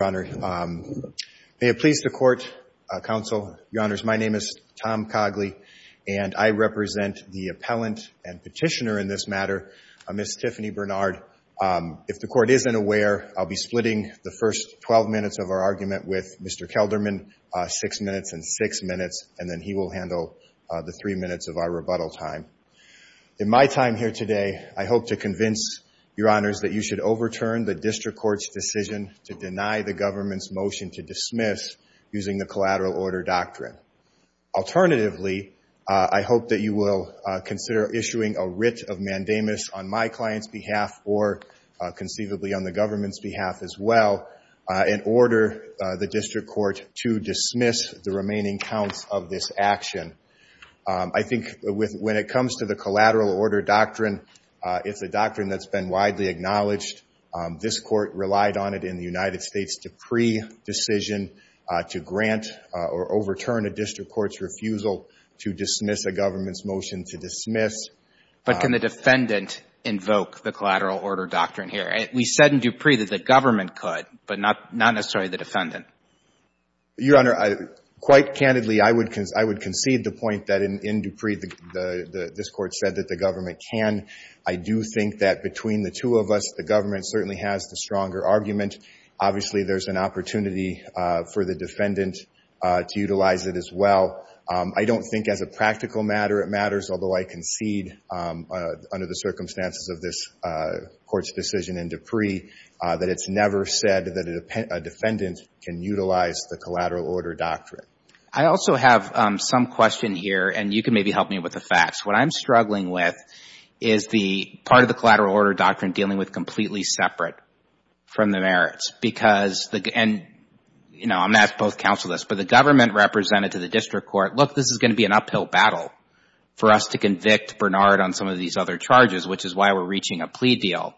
May it please the court, counsel, your honors, my name is Tom Cogley, and I represent the appellant and petitioner in this matter, Miss Tiffany Bernard. If the court isn't aware, I'll be splitting the first 12 minutes of our argument with Mr. Kelderman, six minutes and six minutes, and then he will handle the three minutes of our rebuttal time. In my time here today, I hope to convince your honors that you should overturn the district court's decision to deny the government's motion to dismiss using the collateral order doctrine. Alternatively, I hope that you will consider issuing a writ of mandamus on my client's behalf or conceivably on the government's behalf as well, in order the district court to dismiss the remaining counts of this action. I think when it comes to the collateral order doctrine, it's a doctrine that's been widely acknowledged. This court relied on it in the United States Dupree decision to grant or overturn a district court's refusal to dismiss a government's motion to dismiss. But can the defendant invoke the collateral order doctrine here? We said in Dupree that the government could, but not necessarily the defendant. Your honor, quite candidly, I would concede the point that in Dupree, this court said that the government can. I do think that between the two of us, the government certainly has the stronger argument. Obviously, there's an opportunity for the defendant to utilize it as well. I don't think as a practical matter it matters, although I concede under the circumstances of this court's decision in Dupree that it's never said that a defendant can utilize the collateral order doctrine. I also have some question here, and you can maybe help me with the facts. What I'm struggling with is the part of the collateral order doctrine dealing with completely separate from the merits. I'm not supposed to counsel this, but the government represented to the district court, look, this is going to be an uphill battle for us to convict Bernard on some of these other charges, which is why we're reaching a plea deal.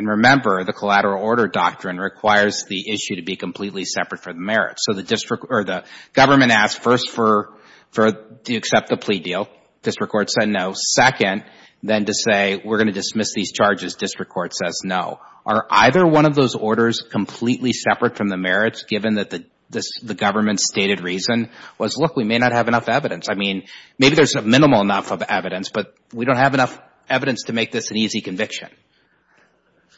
Remember, the collateral order doctrine requires the issue to be completely separate from the merits. The government asked first to accept the plea deal. District court said no. Second, then to say we're going to dismiss these charges. District court says no. Are either one of those orders completely separate from the merits, given that the government's stated reason was, look, we may not have enough evidence. I mean, maybe there's minimal enough of evidence, but we don't have enough evidence to make this an easy conviction.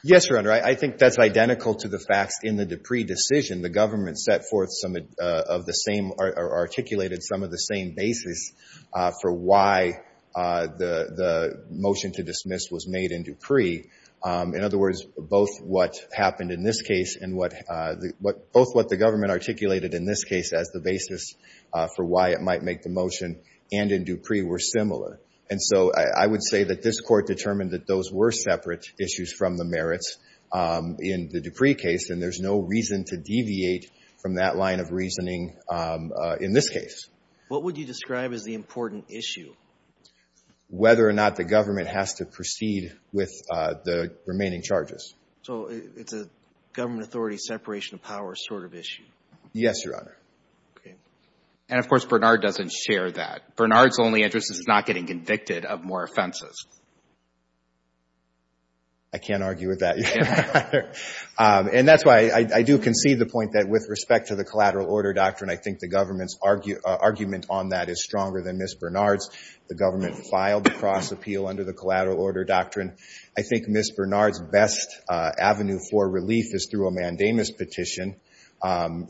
Yes, Your Honor. I think that's identical to the facts in the Dupree decision. The government set forth some of the same or articulated some of the same basis for why the motion to dismiss was made in Dupree. In other words, both what happened in this case and both what the government articulated in this case as the basis for why it might make the motion and in Dupree were similar. And so I would say that this court determined that those were separate issues from the merits in the Dupree case, and there's no reason to deviate from that line of reasoning in this case. What would you describe as the important issue? Whether or not the government has to proceed with the remaining charges. So it's a government authority separation of powers sort of issue? Yes, Your Honor. And of course, Bernard doesn't share that. Bernard's only interest is not getting convicted of more offenses. I can't argue with that, Your Honor. And that's why I do concede the point that with respect to the collateral order doctrine, I think the government's argument on that is stronger than Ms. Bernard's. The government filed the cross appeal under the collateral order doctrine. I think Ms. Bernard's best avenue for relief is through a mandamus petition.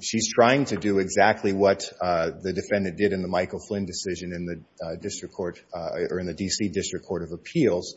She's trying to do exactly what the defendant did in the D.C. District Court of Appeals.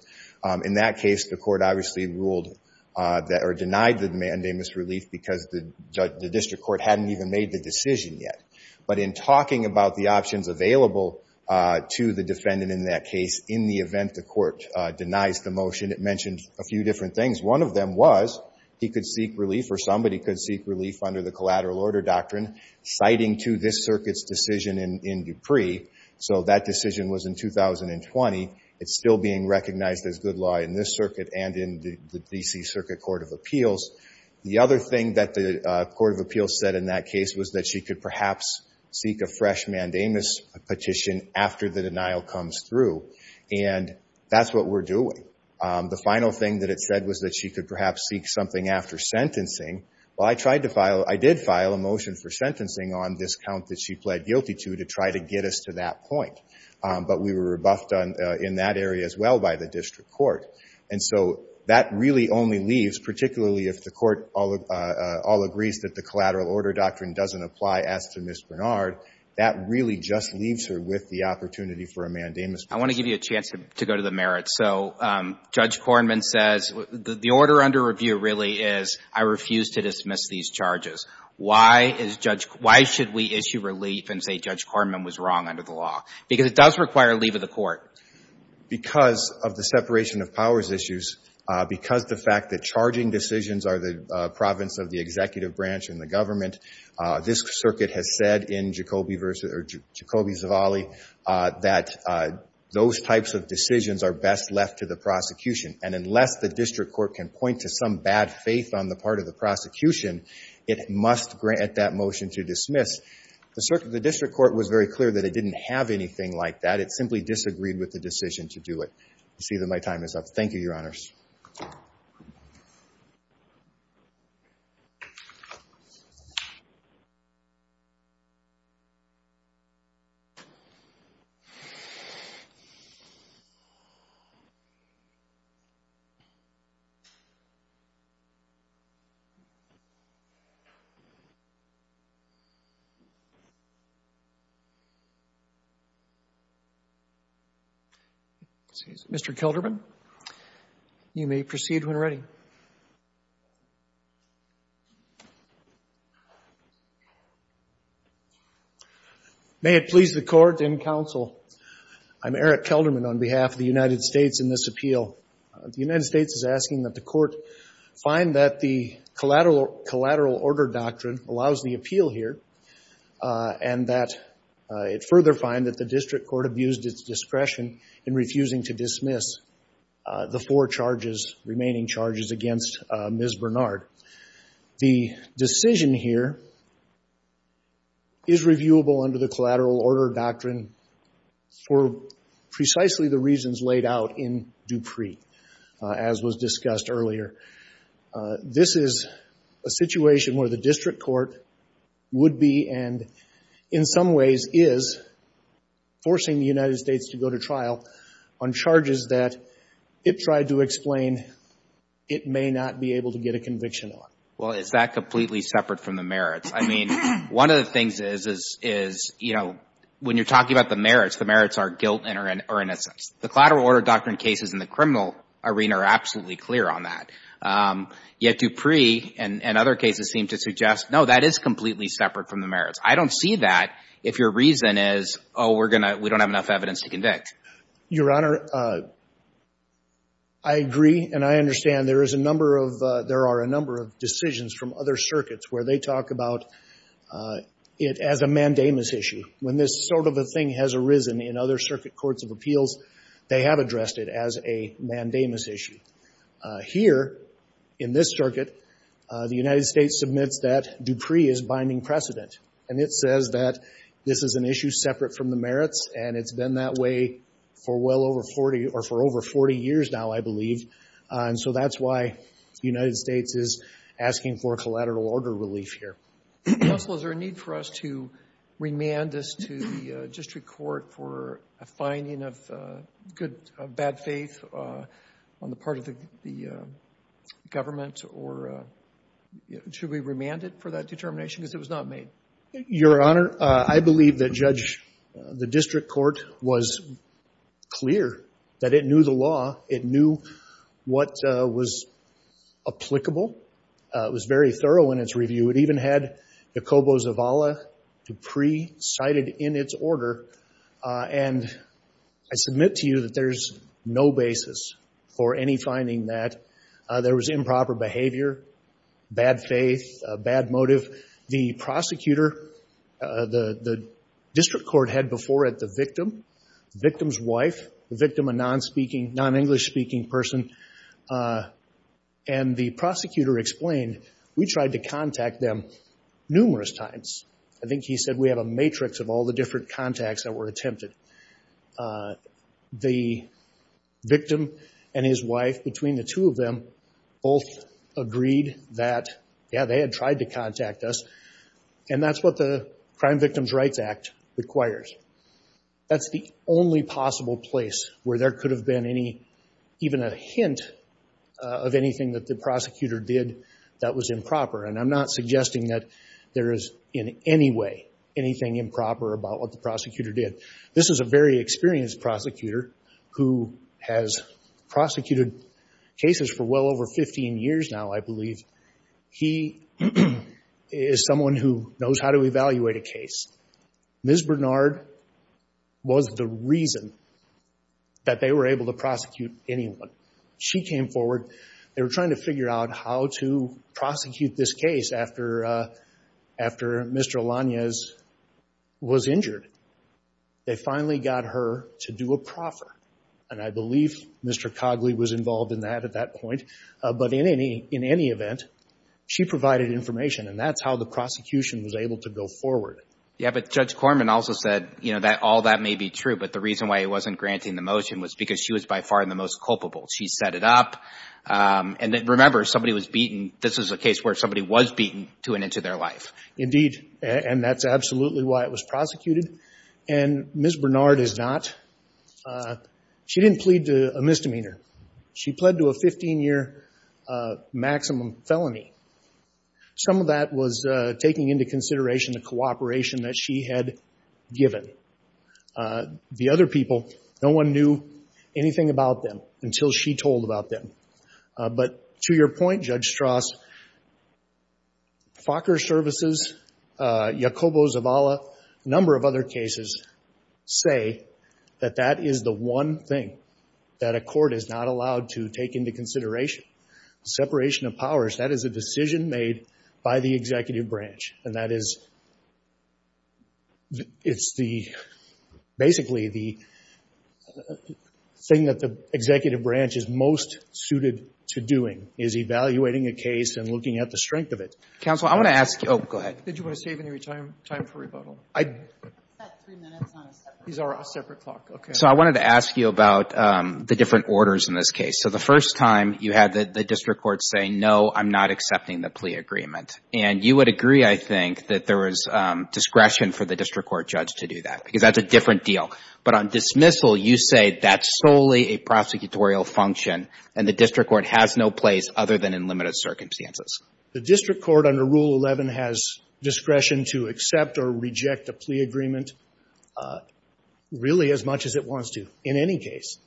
In that case, the court obviously ruled or denied the mandamus relief because the district court hadn't even made the decision yet. But in talking about the options available to the defendant in that case, in the event the court denies the motion, it mentioned a few different things. One of them was he could seek relief or somebody could seek relief under the collateral order doctrine, citing to this circuit's decision in Dupree. So that decision was in 2020. It's still being recognized as good law in this circuit and in the D.C. Circuit Court of Appeals. The other thing that the Court of Appeals said in that case was that she could perhaps seek a fresh mandamus petition after the denial comes through. And that's what we're doing. The final thing that it said was that she could perhaps seek something after sentencing. Well, I tried to file, I did file a motion for sentencing on this count that she pled guilty to to try to get us to that point. But we were rebuffed in that area as well by the district court. And so that really only leaves, particularly if the court all agrees that the collateral order doctrine doesn't apply as to Ms. Bernard, that really just leaves her with the opportunity for a mandamus petition. I want to give you a chance to go to the merits. So Judge Kornman says the order under review really is, I refuse to dismiss these charges. Why should we issue relief and say Judge Kornman was wrong under the law? Because it does require a leave of the court. Because of the separation of powers issues, because the fact that charging decisions are the province of the executive branch and the government, this circuit has said in Jacobi-Zavalli that those types of decisions are best left to the prosecution. And unless the district court can point to some bad faith on the part of the prosecution, it must grant that motion to dismiss. The circuit, the district court was very clear that it didn't have anything like that. It simply disagreed with the decision to do it. I see that my time is up. Thank you, Your Honors. Mr. Kelderman, you may proceed when ready. May it please the Court and counsel, I'm Eric Kelderman on behalf of the United States in this appeal. The United States is asking that the Court find that the collateral order doctrine allows the appeal here, and that it further find that the district court abused its discretion in refusing to dismiss the four charges, remaining charges against Ms. Bernard. The decision here is reviewable under the collateral order doctrine for precisely the reasons laid out in Dupree, as was discussed earlier. This is a situation where the district court would be, and in some ways is, forcing the United States to go to trial on charges that it tried to explain it may not be able to get a conviction on. Well, is that completely separate from the merits? I mean, one of the things is, you know, when you're talking about the merits, the merits are guilt or innocence. The collateral order doctrine cases in the criminal arena are absolutely clear on that. Yet Dupree and other cases seem to suggest, no, that is completely separate from the merits. I don't see that if your reason is, oh, we don't have enough evidence to convict. Your Honor, I agree and I understand there is a number of, there are a number of decisions from other circuits where they talk about it as a mandamus issue. When this sort of a thing has arisen in other circuit courts of appeals, they have addressed it as a mandamus issue. Here, in this circuit, the United States submits that Dupree is binding precedent and it says that this is an issue separate from the merits and it's been that way for well over 40, or for over 40 years now, I believe. And so that's why the United States is asking for a collateral order relief here. Counsel, is there a need for us to remand this to the district court for a finding of good, bad faith on the part of the government or should we remand it for that determination because it was not made? Your Honor, I believe that Judge, the district court was clear that it knew the law. It knew what was applicable. It was very thorough in its review. It even had Jacobo Zavala, Dupree cited in its order. And I submit to you that there's no basis for any finding that there was improper behavior, bad faith, bad motive. The prosecutor, the district court had before it the victim, the victim's wife, the victim, a non-English speaking person, and the prosecutor explained, we tried to contact them numerous times. I think he said we have a matrix of all the different contacts that were attempted. The victim and his wife, between the two of them, both agreed that, yeah, they had tried to contact us. And that's what the Crime Victims Rights Act requires. That's the only possible place where there could have been any, even a hint of anything that the prosecutor did that was improper. And I'm not suggesting that there is in any way anything improper about what the prosecutor did. This is a very experienced prosecutor who has prosecuted cases for well over 15 years now, I believe. He is someone who knows how to evaluate a case. Ms. Bernard was the reason that they were able to prosecute anyone. She came forward. They were trying to figure out how to prosecute this case after Mr. Alanes was injured. They finally got her to do a proffer. And I believe Mr. Cogley was involved in that at that point. But in any event, she provided information. And that's how the prosecution was able to go forward. Yeah, but Judge Corman also said, you know, that all that may be true, but the reason why he wasn't granting the motion was because she was by far the most culpable. She set it up. And remember, somebody was beaten. This is a case where somebody was beaten to an inch of their life. Indeed. And that's absolutely why it was prosecuted. And Ms. Bernard is not. She didn't plead to a misdemeanor. She pled to a 15-year maximum felony. Some of that was taking into consideration the cooperation that she had given the other people. No one knew anything about them until she told about them. But to your point, Judge Strauss, FACR services, Jacobo Zavala, a number of other cases say that that is the one thing that a court is not allowed to take into consideration. Separation of powers, that is a decision made by the executive branch. And that is, it's the, basically the thing that the executive branch is most suited to doing is evaluating a case and looking at the strength of it. Counsel, I want to ask you. Oh, go ahead. Did you want to save any time for rebuttal? I've got three minutes on a separate clock. These are a separate clock. Okay. So I wanted to ask you about the different orders in this case. So the first time you had the district court say, no, I'm not accepting the plea agreement. And you would agree, I think, that there was discretion for the district court judge to do that. Because that's a different deal. But on dismissal, you say that's solely a prosecutorial function and the district court has no place other than in limited circumstances. The district court under Rule 11 has discretion to accept or reject a plea agreement, really as much as it wants to, in any case.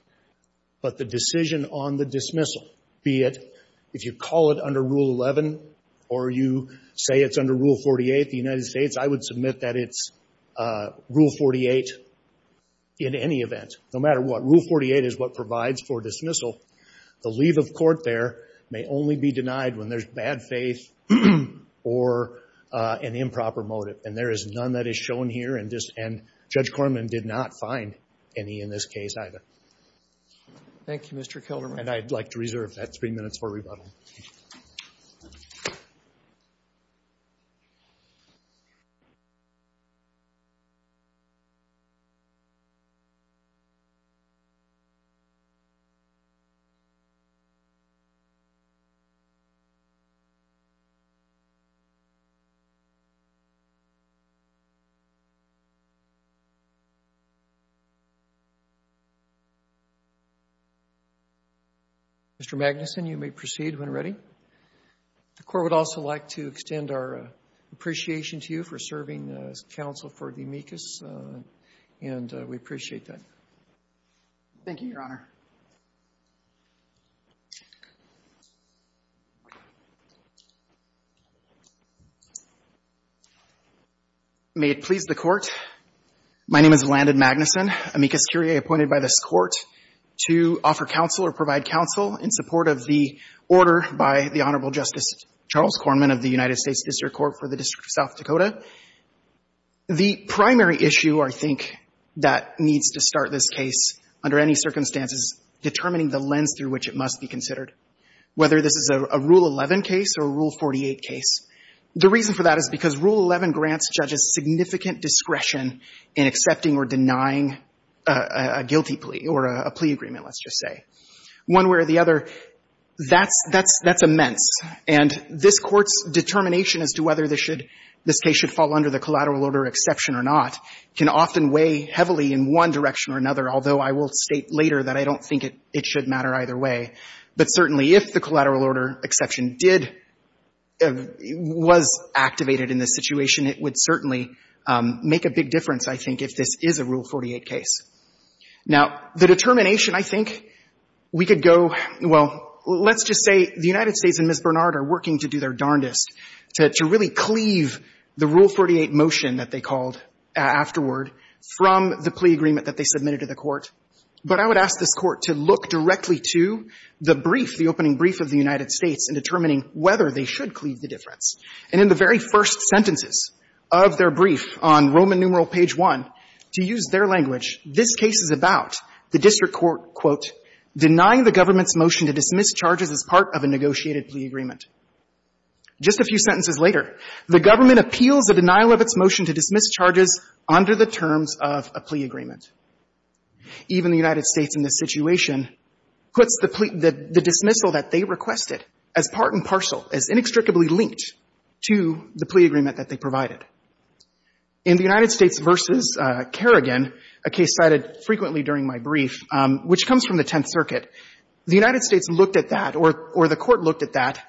But the decision on the dismissal, be it, if you call it under Rule 11 or you say it's under Rule 48, the United States, I would submit that it's Rule 48 in any event. No matter what. Rule 48 is what provides for dismissal. The leave of court there may only be And that's a different deal. or an improper motive. And there is none that is shown here. And Judge Korman did not find any in this case either. Thank you, Mr. Kilderman. And I'd like to reserve that three minutes for rebuttal. Mr. Magnuson, you may proceed when ready. The court would also like to extend our appreciation to you for serving as counsel for the amicus. And we appreciate that. Thank you, Your Honor. May it please the Court. My name is Landon Magnuson, amicus curiae appointed by this Court to offer counsel or provide counsel in support of the order by the Honorable Justice Charles Korman of the United States District Court for the District of South Dakota. The primary issue, I think, that needs to start this case, under any circumstances, determining the lens through which it must be considered, whether this is a Rule 48 case. The reason for that is because Rule 11 grants judges significant discretion in accepting or denying a guilty plea, or a plea agreement, let's just say. One way or the other, that's immense. And this Court's determination as to whether this case should fall under the collateral order exception or not can often weigh heavily in one direction or another, although I will state later that I don't think it should matter either way. But certainly if the collateral order exception did fall under the collateral order exception, if it was activated in this situation, it would certainly make a big difference, I think, if this is a Rule 48 case. Now, the determination, I think, we could go — well, let's just say the United States and Ms. Bernard are working to do their darndest to really cleave the Rule 48 motion that they called afterward from the plea agreement that they submitted to the Court. But I would ask this Court to look directly to the brief, the opening brief of the United States in determining whether they should go under the collateral order exception. And in the very first sentences of their brief on Roman numeral page 1, to use their language, this case is about the district court, quote, denying the government's motion to dismiss charges as part of a negotiated plea agreement. Just a few sentences later, the government appeals the denial of its motion to dismiss charges under the terms of a plea agreement. Even the United States in this situation puts the plea — the dismissal that they requested as part and parcel, as inextricably linked to the plea agreement that they provided. In the United States v. Kerrigan, a case cited frequently during my brief, which comes from the Tenth Circuit, the United States looked at that, or the Court looked at that,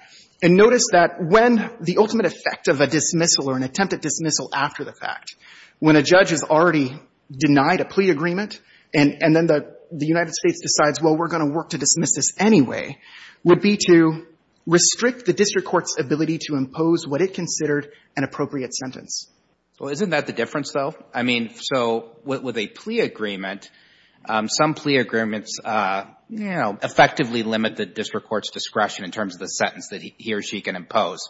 and noticed that when the ultimate effect of a dismissal or an attempted dismissal after the fact, when a judge has already denied a plea agreement, and then the United States decides, well, we're going to work to dismiss this anyway, would be to restrict the district court's ability to impose what it considered an appropriate sentence. Well, isn't that the difference, though? I mean, so with a plea agreement, some plea agreements, you know, effectively limit the district court's discretion in terms of the sentence that he or she can impose.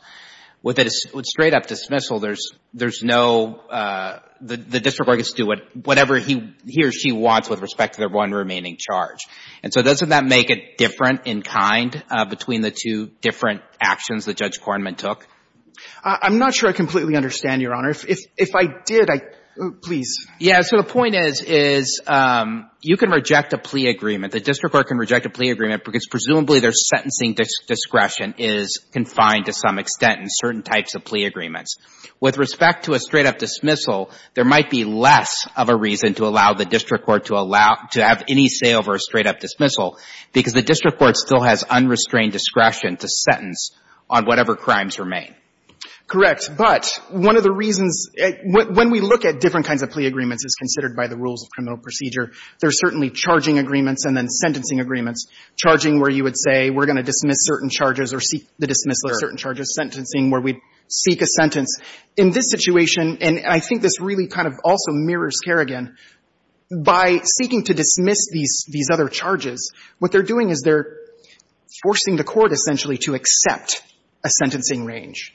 With a straight-up dismissal, there's no — the district court gets to do whatever he or she wants with respect to their one remaining charge. And so doesn't that make it different in kind between the two different actions that Judge Kornman took? I'm not sure I completely understand, Your Honor. If I did, I — please. Yeah. So the point is, is you can reject a plea agreement. The district court can reject a plea agreement because presumably their sentencing discretion is confined to some extent in certain types of plea agreements. With respect to a straight-up dismissal, there might be less of a reason to allow the district court to allow — to have any say over a straight-up dismissal because the district court still has unrestrained discretion to sentence on whatever crimes remain. Correct. But one of the reasons — when we look at different kinds of plea agreements as considered by the rules of criminal procedure, there are certainly charging agreements and then sentencing agreements, charging where you would say we're going to dismiss certain charges or seek the dismissal of certain charges, sentencing where we'd seek a sentence. In this situation, and I think this really kind of also mirrors Kerrigan, by seeking to dismiss these — these other charges, what they're doing is they're forcing the court essentially to accept a sentencing range.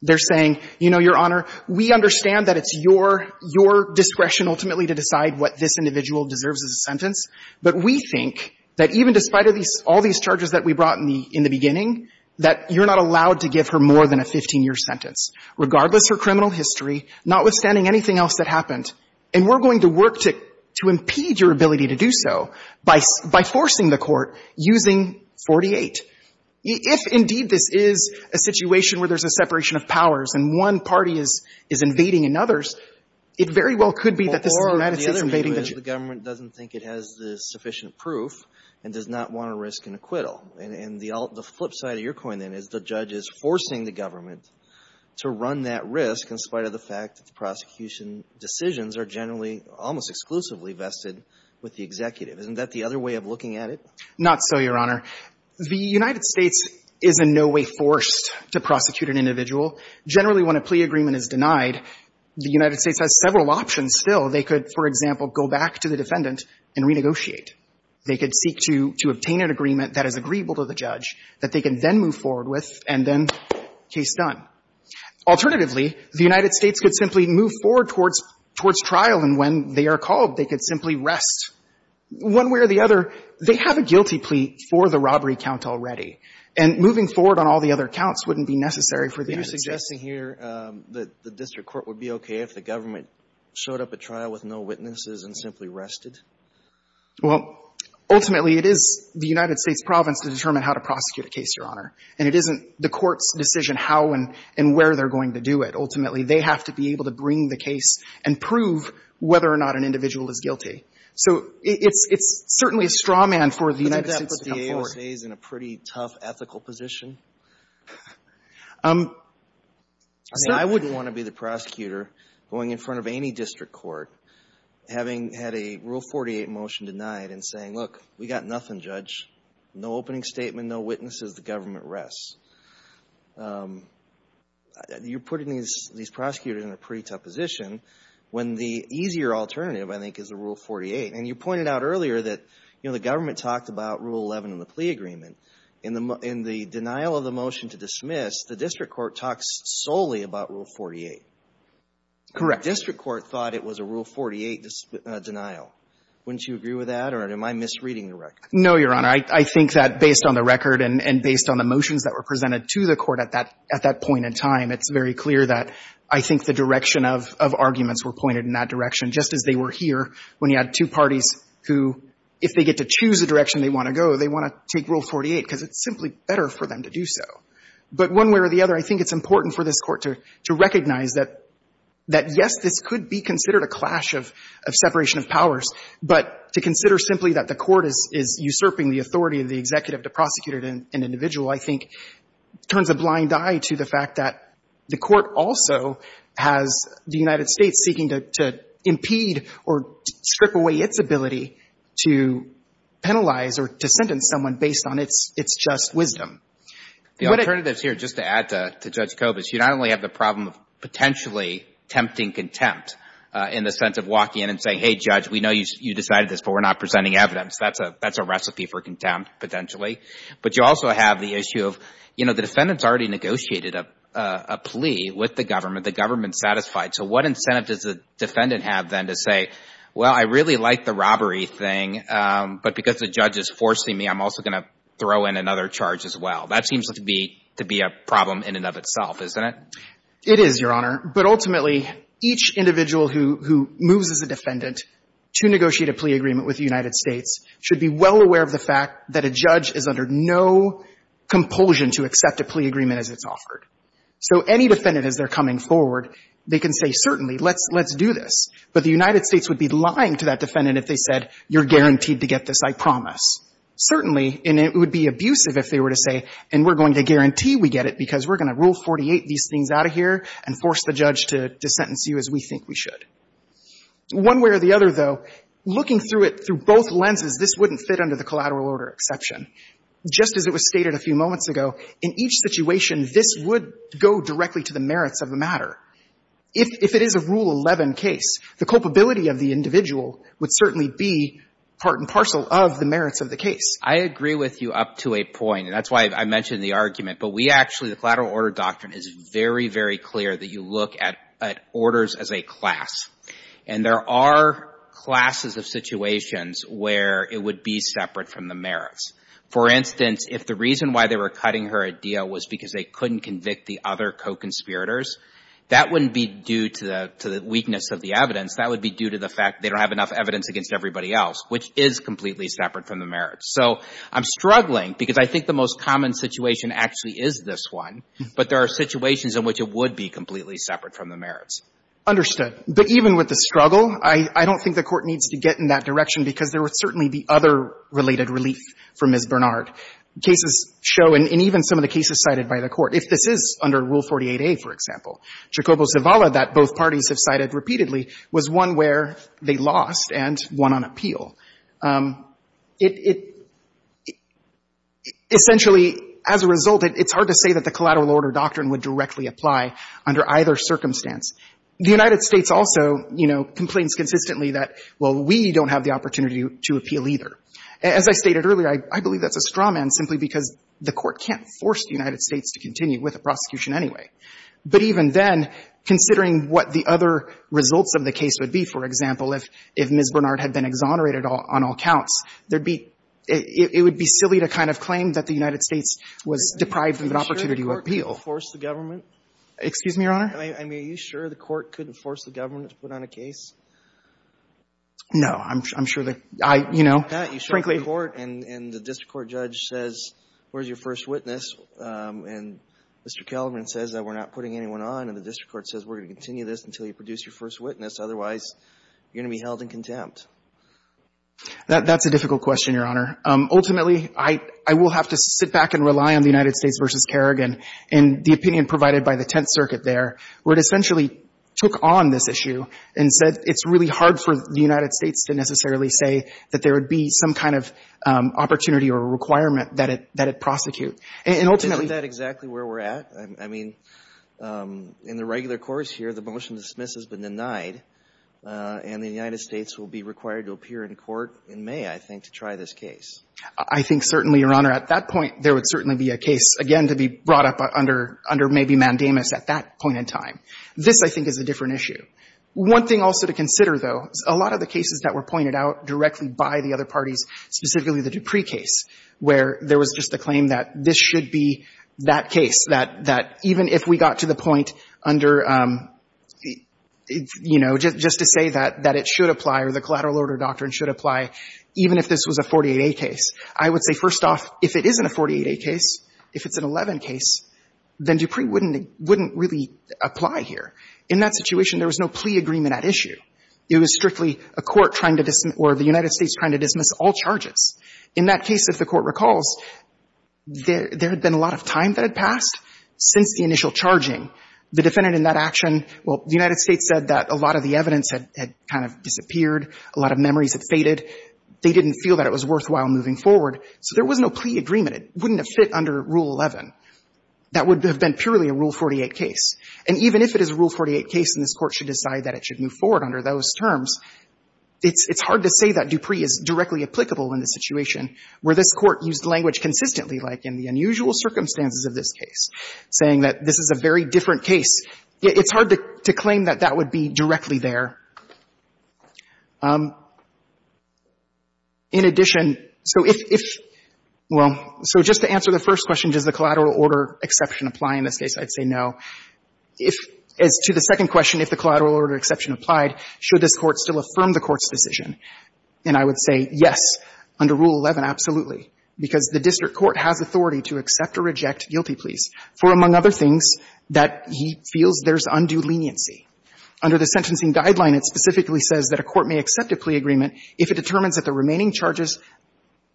They're saying, you know, Your Honor, we understand that it's your — your discretion ultimately to decide what this individual deserves as a sentence, but we think that even despite of these — all these charges that we brought in the — in the beginning, that you're not allowed to give her more than a 15-year sentence, regardless her criminal history, notwithstanding anything else that happened. And we're going to work to — to impede your ability to do so by — by forcing the court using 48. If, indeed, this is a situation where there's a separation of powers and one party is — is invading another's, it very well could be that the United States is invading the — But the government doesn't think it has the sufficient proof and does not want to risk an acquittal. And — and the flip side of your coin, then, is the judge is forcing the government to run that risk in spite of the fact that the prosecution decisions are generally almost exclusively vested with the executive. Isn't that the other way of looking at it? Not so, Your Honor. The United States is in no way forced to prosecute an individual. Generally, when a plea agreement is denied, the United States has several options still. They could, for example, go back to the defendant and renegotiate. They could seek to — to obtain an agreement that is agreeable to the judge that they can then move forward with and then, case done. Alternatively, the United States could simply move forward towards — towards trial, and when they are called, they could simply rest. One way or the other, they have a guilty plea for the robbery count already, and moving forward on all the other counts wouldn't be necessary for the United States. So you're suggesting here that the district court would be okay if the government showed up at trial with no witnesses and simply rested? Well, ultimately, it is the United States province to determine how to prosecute a case, Your Honor, and it isn't the court's decision how and — and where they're going to do it. Ultimately, they have to be able to bring the case and prove whether or not an individual is guilty. So it's — it's certainly a straw man for the United States to come forward. I mean, I wouldn't want to be the prosecutor going in front of any district court having had a Rule 48 motion denied and saying, look, we got nothing, Judge, no opening statement, no witnesses, the government rests. You're putting these — these prosecutors in a pretty tough position when the easier alternative, I think, is a Rule 48. And you pointed out earlier that, you know, the government talked about Rule 11 in the plea agreement. In the — in the denial of the motion to dismiss, the district court talks solely about Rule 48. Correct. The district court thought it was a Rule 48 denial. Wouldn't you agree with that? Or am I misreading the record? No, Your Honor. I think that based on the record and — and based on the motions that were presented to the court at that — at that point in time, it's very clear that I think the direction of — of arguments were pointed in that direction, just as they were here when you had two parties who, if they get to choose a direction they want to go, they want to take Rule 48 because it's simply better for them to do so. But one way or the other, I think it's important for this Court to — to recognize that — that, yes, this could be considered a clash of — of separation of powers, but to consider simply that the Court is — is usurping the authority of the executive to prosecute an — an individual, I think, turns a blind eye to the fact that the United States is seeking to — to impede or strip away its ability to penalize or to sentence someone based on its — its just wisdom. The alternatives here, just to add to — to Judge Kobach, you not only have the problem of potentially tempting contempt in the sense of walking in and saying, hey, judge, we know you — you decided this, but we're not presenting evidence. That's a — that's a recipe for contempt, potentially. But you also have the issue of, you know, the defendants already negotiated a — a So what incentive does the defendant have, then, to say, well, I really like the robbery thing, but because the judge is forcing me, I'm also going to throw in another charge as well? That seems to be — to be a problem in and of itself, isn't it? It is, Your Honor. But ultimately, each individual who — who moves as a defendant to negotiate a plea agreement with the United States should be well aware of the fact that a judge is under no compulsion to accept a plea agreement as it's offered. So any defendant, as they're coming forward, they can say, certainly, let's — let's do this. But the United States would be lying to that defendant if they said, you're guaranteed to get this, I promise. Certainly, and it would be abusive if they were to say, and we're going to guarantee we get it because we're going to Rule 48 these things out of here and force the judge to — to sentence you as we think we should. One way or the other, though, looking through it through both lenses, this wouldn't fit under the collateral order exception. Just as it was stated a few moments ago, in each situation, this would go directly to the merits of the matter. If — if it is a Rule 11 case, the culpability of the individual would certainly be part and parcel of the merits of the case. I agree with you up to a point, and that's why I mentioned the argument. But we actually — the collateral order doctrine is very, very clear that you look at — at orders as a class. And there are classes of situations where it would be separate from the merits. For instance, if the reason why they were cutting her a deal was because they couldn't convict the other co-conspirators, that wouldn't be due to the — to the weakness of the evidence. That would be due to the fact they don't have enough evidence against everybody else, which is completely separate from the merits. So I'm struggling because I think the most common situation actually is this one, but there are situations in which it would be completely separate from the merits. Understood. But even with the struggle, I — I don't think the Court needs to get in that direction because there would certainly be other related relief for Ms. Bernard. Cases show, and even some of the cases cited by the Court, if this is under Rule 48a, for example, Jacobo Zavala, that both parties have cited repeatedly, was one where they lost and won on appeal. It — it — essentially, as a result, it's hard to say that the collateral order doctrine would directly apply under either circumstance. The United States also, you know, complains consistently that, well, we don't have the opportunity to appeal either. As I stated earlier, I — I believe that's a strawman simply because the Court can't force the United States to continue with a prosecution anyway. But even then, considering what the other results of the case would be, for example, if — if Ms. Bernard had been exonerated on all counts, there'd be — it would be silly to kind of claim that the United States was deprived of an opportunity to appeal. Excuse me, Your Honor? I mean, are you sure the Court couldn't force the government to put on a case? No. I'm — I'm sure that I — you know, frankly — You show court, and — and the district court judge says, where's your first witness? And Mr. Kellerman says that we're not putting anyone on, and the district court says we're going to continue this until you produce your first witness. Otherwise, you're going to be held in contempt. That — that's a difficult question, Your Honor. Ultimately, I — I will have to sit back and rely on the United States v. Kerrigan and the opinion provided by the Tenth Circuit there, where it essentially took on this case. It's really hard for the United States to necessarily say that there would be some kind of opportunity or requirement that it — that it prosecute. And ultimately — Isn't that exactly where we're at? I mean, in the regular course here, the motion to dismiss has been denied, and the United States will be required to appear in court in May, I think, to try this case. I think certainly, Your Honor, at that point, there would certainly be a case, again, to be brought up under — under maybe mandamus at that point in time. This, I think, is a different issue. One thing also to consider, though, is a lot of the cases that were pointed out directly by the other parties, specifically the Dupree case, where there was just the claim that this should be that case, that — that even if we got to the point under, you know, just to say that — that it should apply or the collateral order doctrine should apply, even if this was a 48A case, I would say, first off, if it isn't a 48A case, if it's an 11 case, then Dupree wouldn't — wouldn't really apply here. In that situation, there was no plea agreement at issue. It was strictly a court trying to — or the United States trying to dismiss all charges. In that case, if the Court recalls, there — there had been a lot of time that had passed since the initial charging. The defendant in that action — well, the United States said that a lot of the evidence had — had kind of disappeared. A lot of memories had faded. They didn't feel that it was worthwhile moving forward. So there was no plea agreement. It wouldn't have fit under Rule 11. That would have been purely a Rule 48 case. And even if it is a Rule 48 case and this Court should decide that it should move forward under those terms, it's — it's hard to say that Dupree is directly applicable in the situation where this Court used language consistently, like in the unusual circumstances of this case, saying that this is a very different case. It's hard to — to claim that that would be directly there. In addition, so if — if — well, so just to answer the first question, does the collateral order exception apply in this case, I'd say no. If — as to the second question, if the collateral order exception applied, should this Court still affirm the Court's decision? And I would say yes, under Rule 11, absolutely, because the district court has authority to accept or reject guilty pleas for, among other things, that he feels there's undue leniency. Under the sentencing guideline, it specifically says that a court may accept a plea agreement if it determines that the remaining charges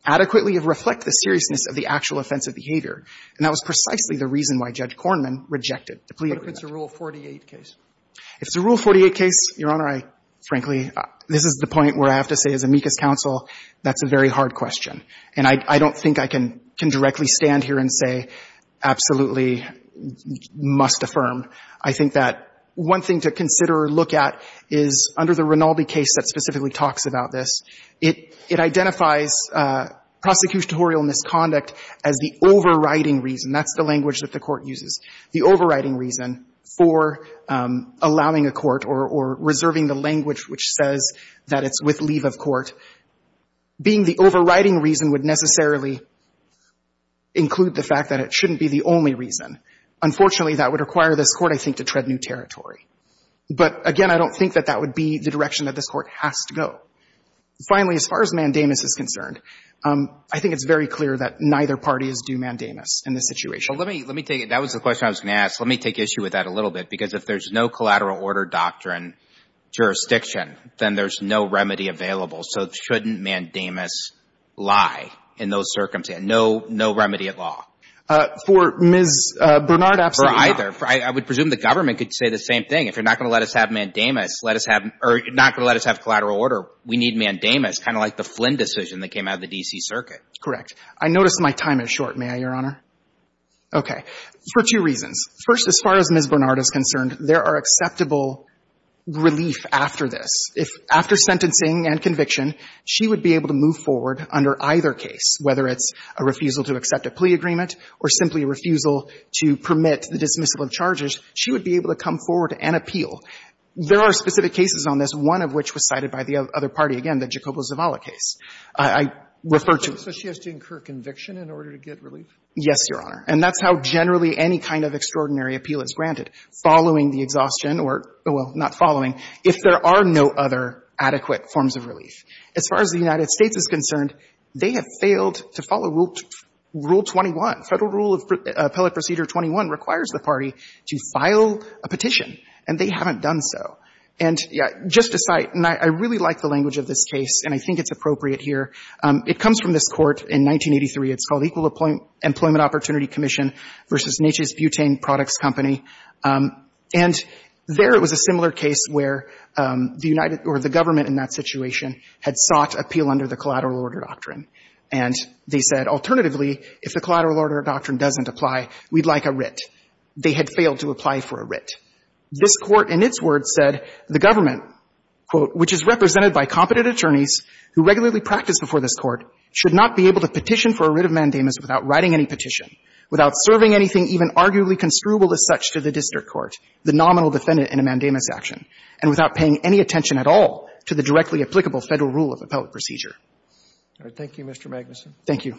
adequately reflect the seriousness of the actual offensive behavior. And that was precisely the reason why Judge Kornman rejected the plea agreement. But if it's a Rule 48 case? If it's a Rule 48 case, Your Honor, I — frankly, this is the point where I have to say, as amicus counsel, that's a very hard question. And I — I don't think I can — can directly stand here and say, absolutely, must affirm. I think that one thing to consider or look at is, under the Rinaldi case that specifically talks about this, it — it identifies prosecutorial misconduct as the overriding reason. That's the language that the Court uses. The overriding reason for allowing a court or — or reserving the language which says that it's with leave of court being the overriding reason would necessarily include the fact that it shouldn't be the only reason. Unfortunately, that would require this Court, I think, to tread new territory. But, again, I don't think that that would be the direction that this Court has to go. Finally, as far as Mandamus is concerned, I think it's very clear that neither parties do Mandamus in this situation. Well, let me — let me take — that was the question I was going to ask. Let me take issue with that a little bit, because if there's no collateral order doctrine jurisdiction, then there's no remedy available. So shouldn't Mandamus lie in those circumstances? No — no remedy at law? For Ms. Bernard, absolutely not. For either. I would presume the government could say the same thing. If you're not going to let us have Mandamus, let us have — or not going to let us have collateral order, we need Mandamus, kind of like the Flynn decision that came out of the D.C. Circuit. Correct. I notice my time is short. May I, Your Honor? Okay. For two reasons. First, as far as Ms. Bernard is concerned, there are acceptable relief after this. If — after sentencing and conviction, she would be able to move forward under either case, whether it's a refusal to accept a plea agreement or simply a refusal to permit the dismissal of charges, she would be able to come forward and appeal. There are specific cases on this, one of which was cited by the other party, again, the Jacobo Zavala case. I refer to — So she has to incur conviction in order to get relief? Yes, Your Honor. And that's how generally any kind of extraordinary appeal is granted, following the exhaustion or — well, not following, if there are no other adequate forms of relief. As far as the United States is concerned, they have failed to follow Rule 21. Federal Rule of Appellate Procedure 21 requires the party to file a petition, and they haven't done so. And just a side — and I really like the language of this case, and I think it's appropriate here. It comes from this Court in 1983. It's called Equal Employment Opportunity Commission v. Natchez-Butain Products Company. And there, it was a similar case where the United — or the government in that situation had sought appeal under the Collateral Order Doctrine. And they said, alternatively, if the Collateral Order Doctrine doesn't apply, we'd like a writ. They had failed to apply for a writ. This Court, in its words, said the government, quote, which is represented by competent attorneys who regularly practice before this Court should not be able to petition for a writ of mandamus without writing any petition, without serving anything even arguably construable as such to the district court, the nominal defendant in a mandamus action, and without paying any attention at all to the directly applicable Federal Rule of Appellate Procedure. Thank you, Mr. Magnuson. Thank you.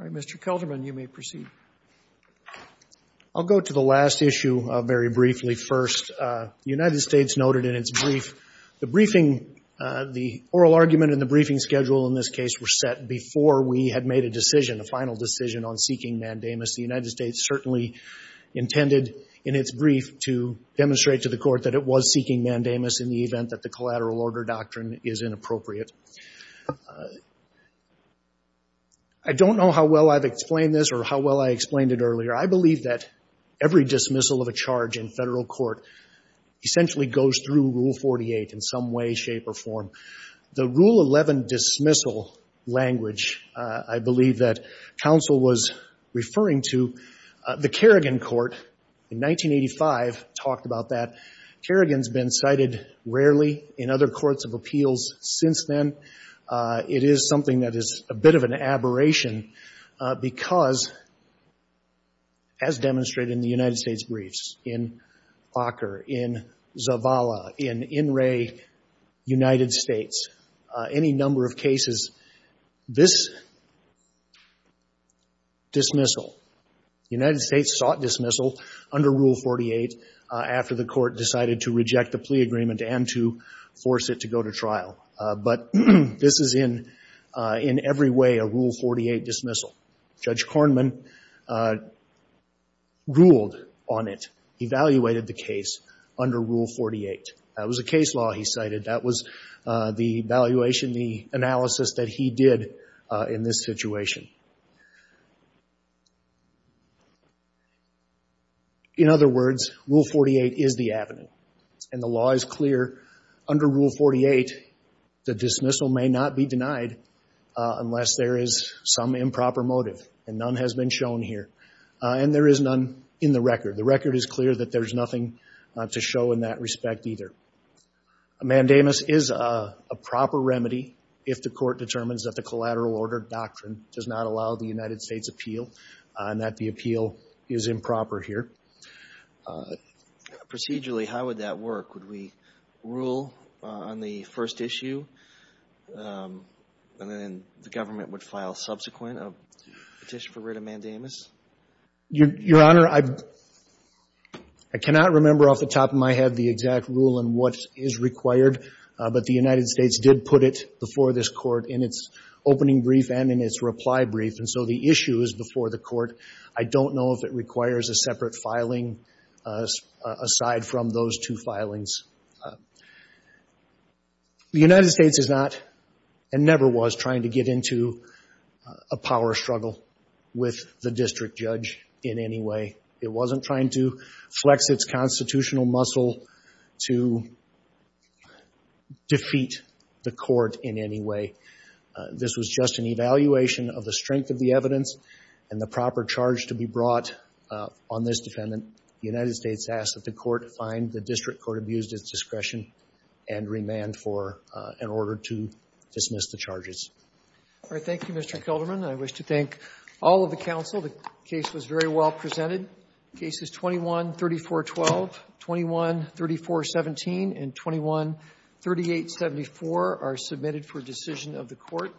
All right. Mr. Kelterman, you may proceed. I'll go to the last issue very briefly first. The United States noted in its brief the briefing — the oral argument and the briefing schedule in this case were set before we had made a decision, a final decision on seeking mandamus. The United States certainly intended in its brief to demonstrate to the Court that it was seeking mandamus in the event that the Collateral Order Doctrine is inappropriate. I don't know how well I've explained this or how well I explained it earlier. I believe that every dismissal of a charge in Federal court essentially goes through Rule 48 in some way, shape, or form. The Rule 11 dismissal language I believe that counsel was referring to, the Kerrigan Court in 1985 talked about that. Kerrigan's been cited rarely in other courts of appeals since then. It is something that is a bit of an aberration because, as demonstrated in the United States briefs, in Ocker, in Zavala, in Inouye, United States, and in the United States any number of cases, this dismissal, the United States sought dismissal under Rule 48 after the Court decided to reject the plea agreement and to force it to go to trial. But this is in every way a Rule 48 dismissal. Judge Kornman ruled on it, evaluated the case under Rule 48. That was a case law he cited. That was the evaluation, the analysis that he did in this situation. In other words, Rule 48 is the avenue. And the law is clear under Rule 48 the dismissal may not be denied unless there is some improper motive, and none has been shown here. And there is none in the record. The record is clear that there is nothing to show in that respect either. Mandamus is a proper remedy if the Court determines that the collateral order doctrine does not allow the United States appeal and that the appeal is improper here. Procedurally, how would that work? Would we rule on the first issue, and then the government would file subsequent a petition for writ of Mandamus? Your Honor, I cannot remember off the top of my head the exact rule and what is required, but the United States did put it before this Court in its opening brief and in its reply brief. And so the issue is before the Court. I don't know if it requires a separate filing aside from those two filings. The United States is not, and never was, trying to get into a power struggle with the district judge in any way. It wasn't trying to flex its constitutional muscle to defeat the Court in any way. This was just an evaluation of the strength of the evidence and the proper charge to be brought on this defendant. The United States asked that the Court find the district court abused its discretion and remand for an order to dismiss the charges. All right. Thank you, Mr. Kilderman. I wish to thank all of the counsel. The case was very well presented. Cases 21-3412, 21-3417, and 21-3874 are submitted for decision of the Court.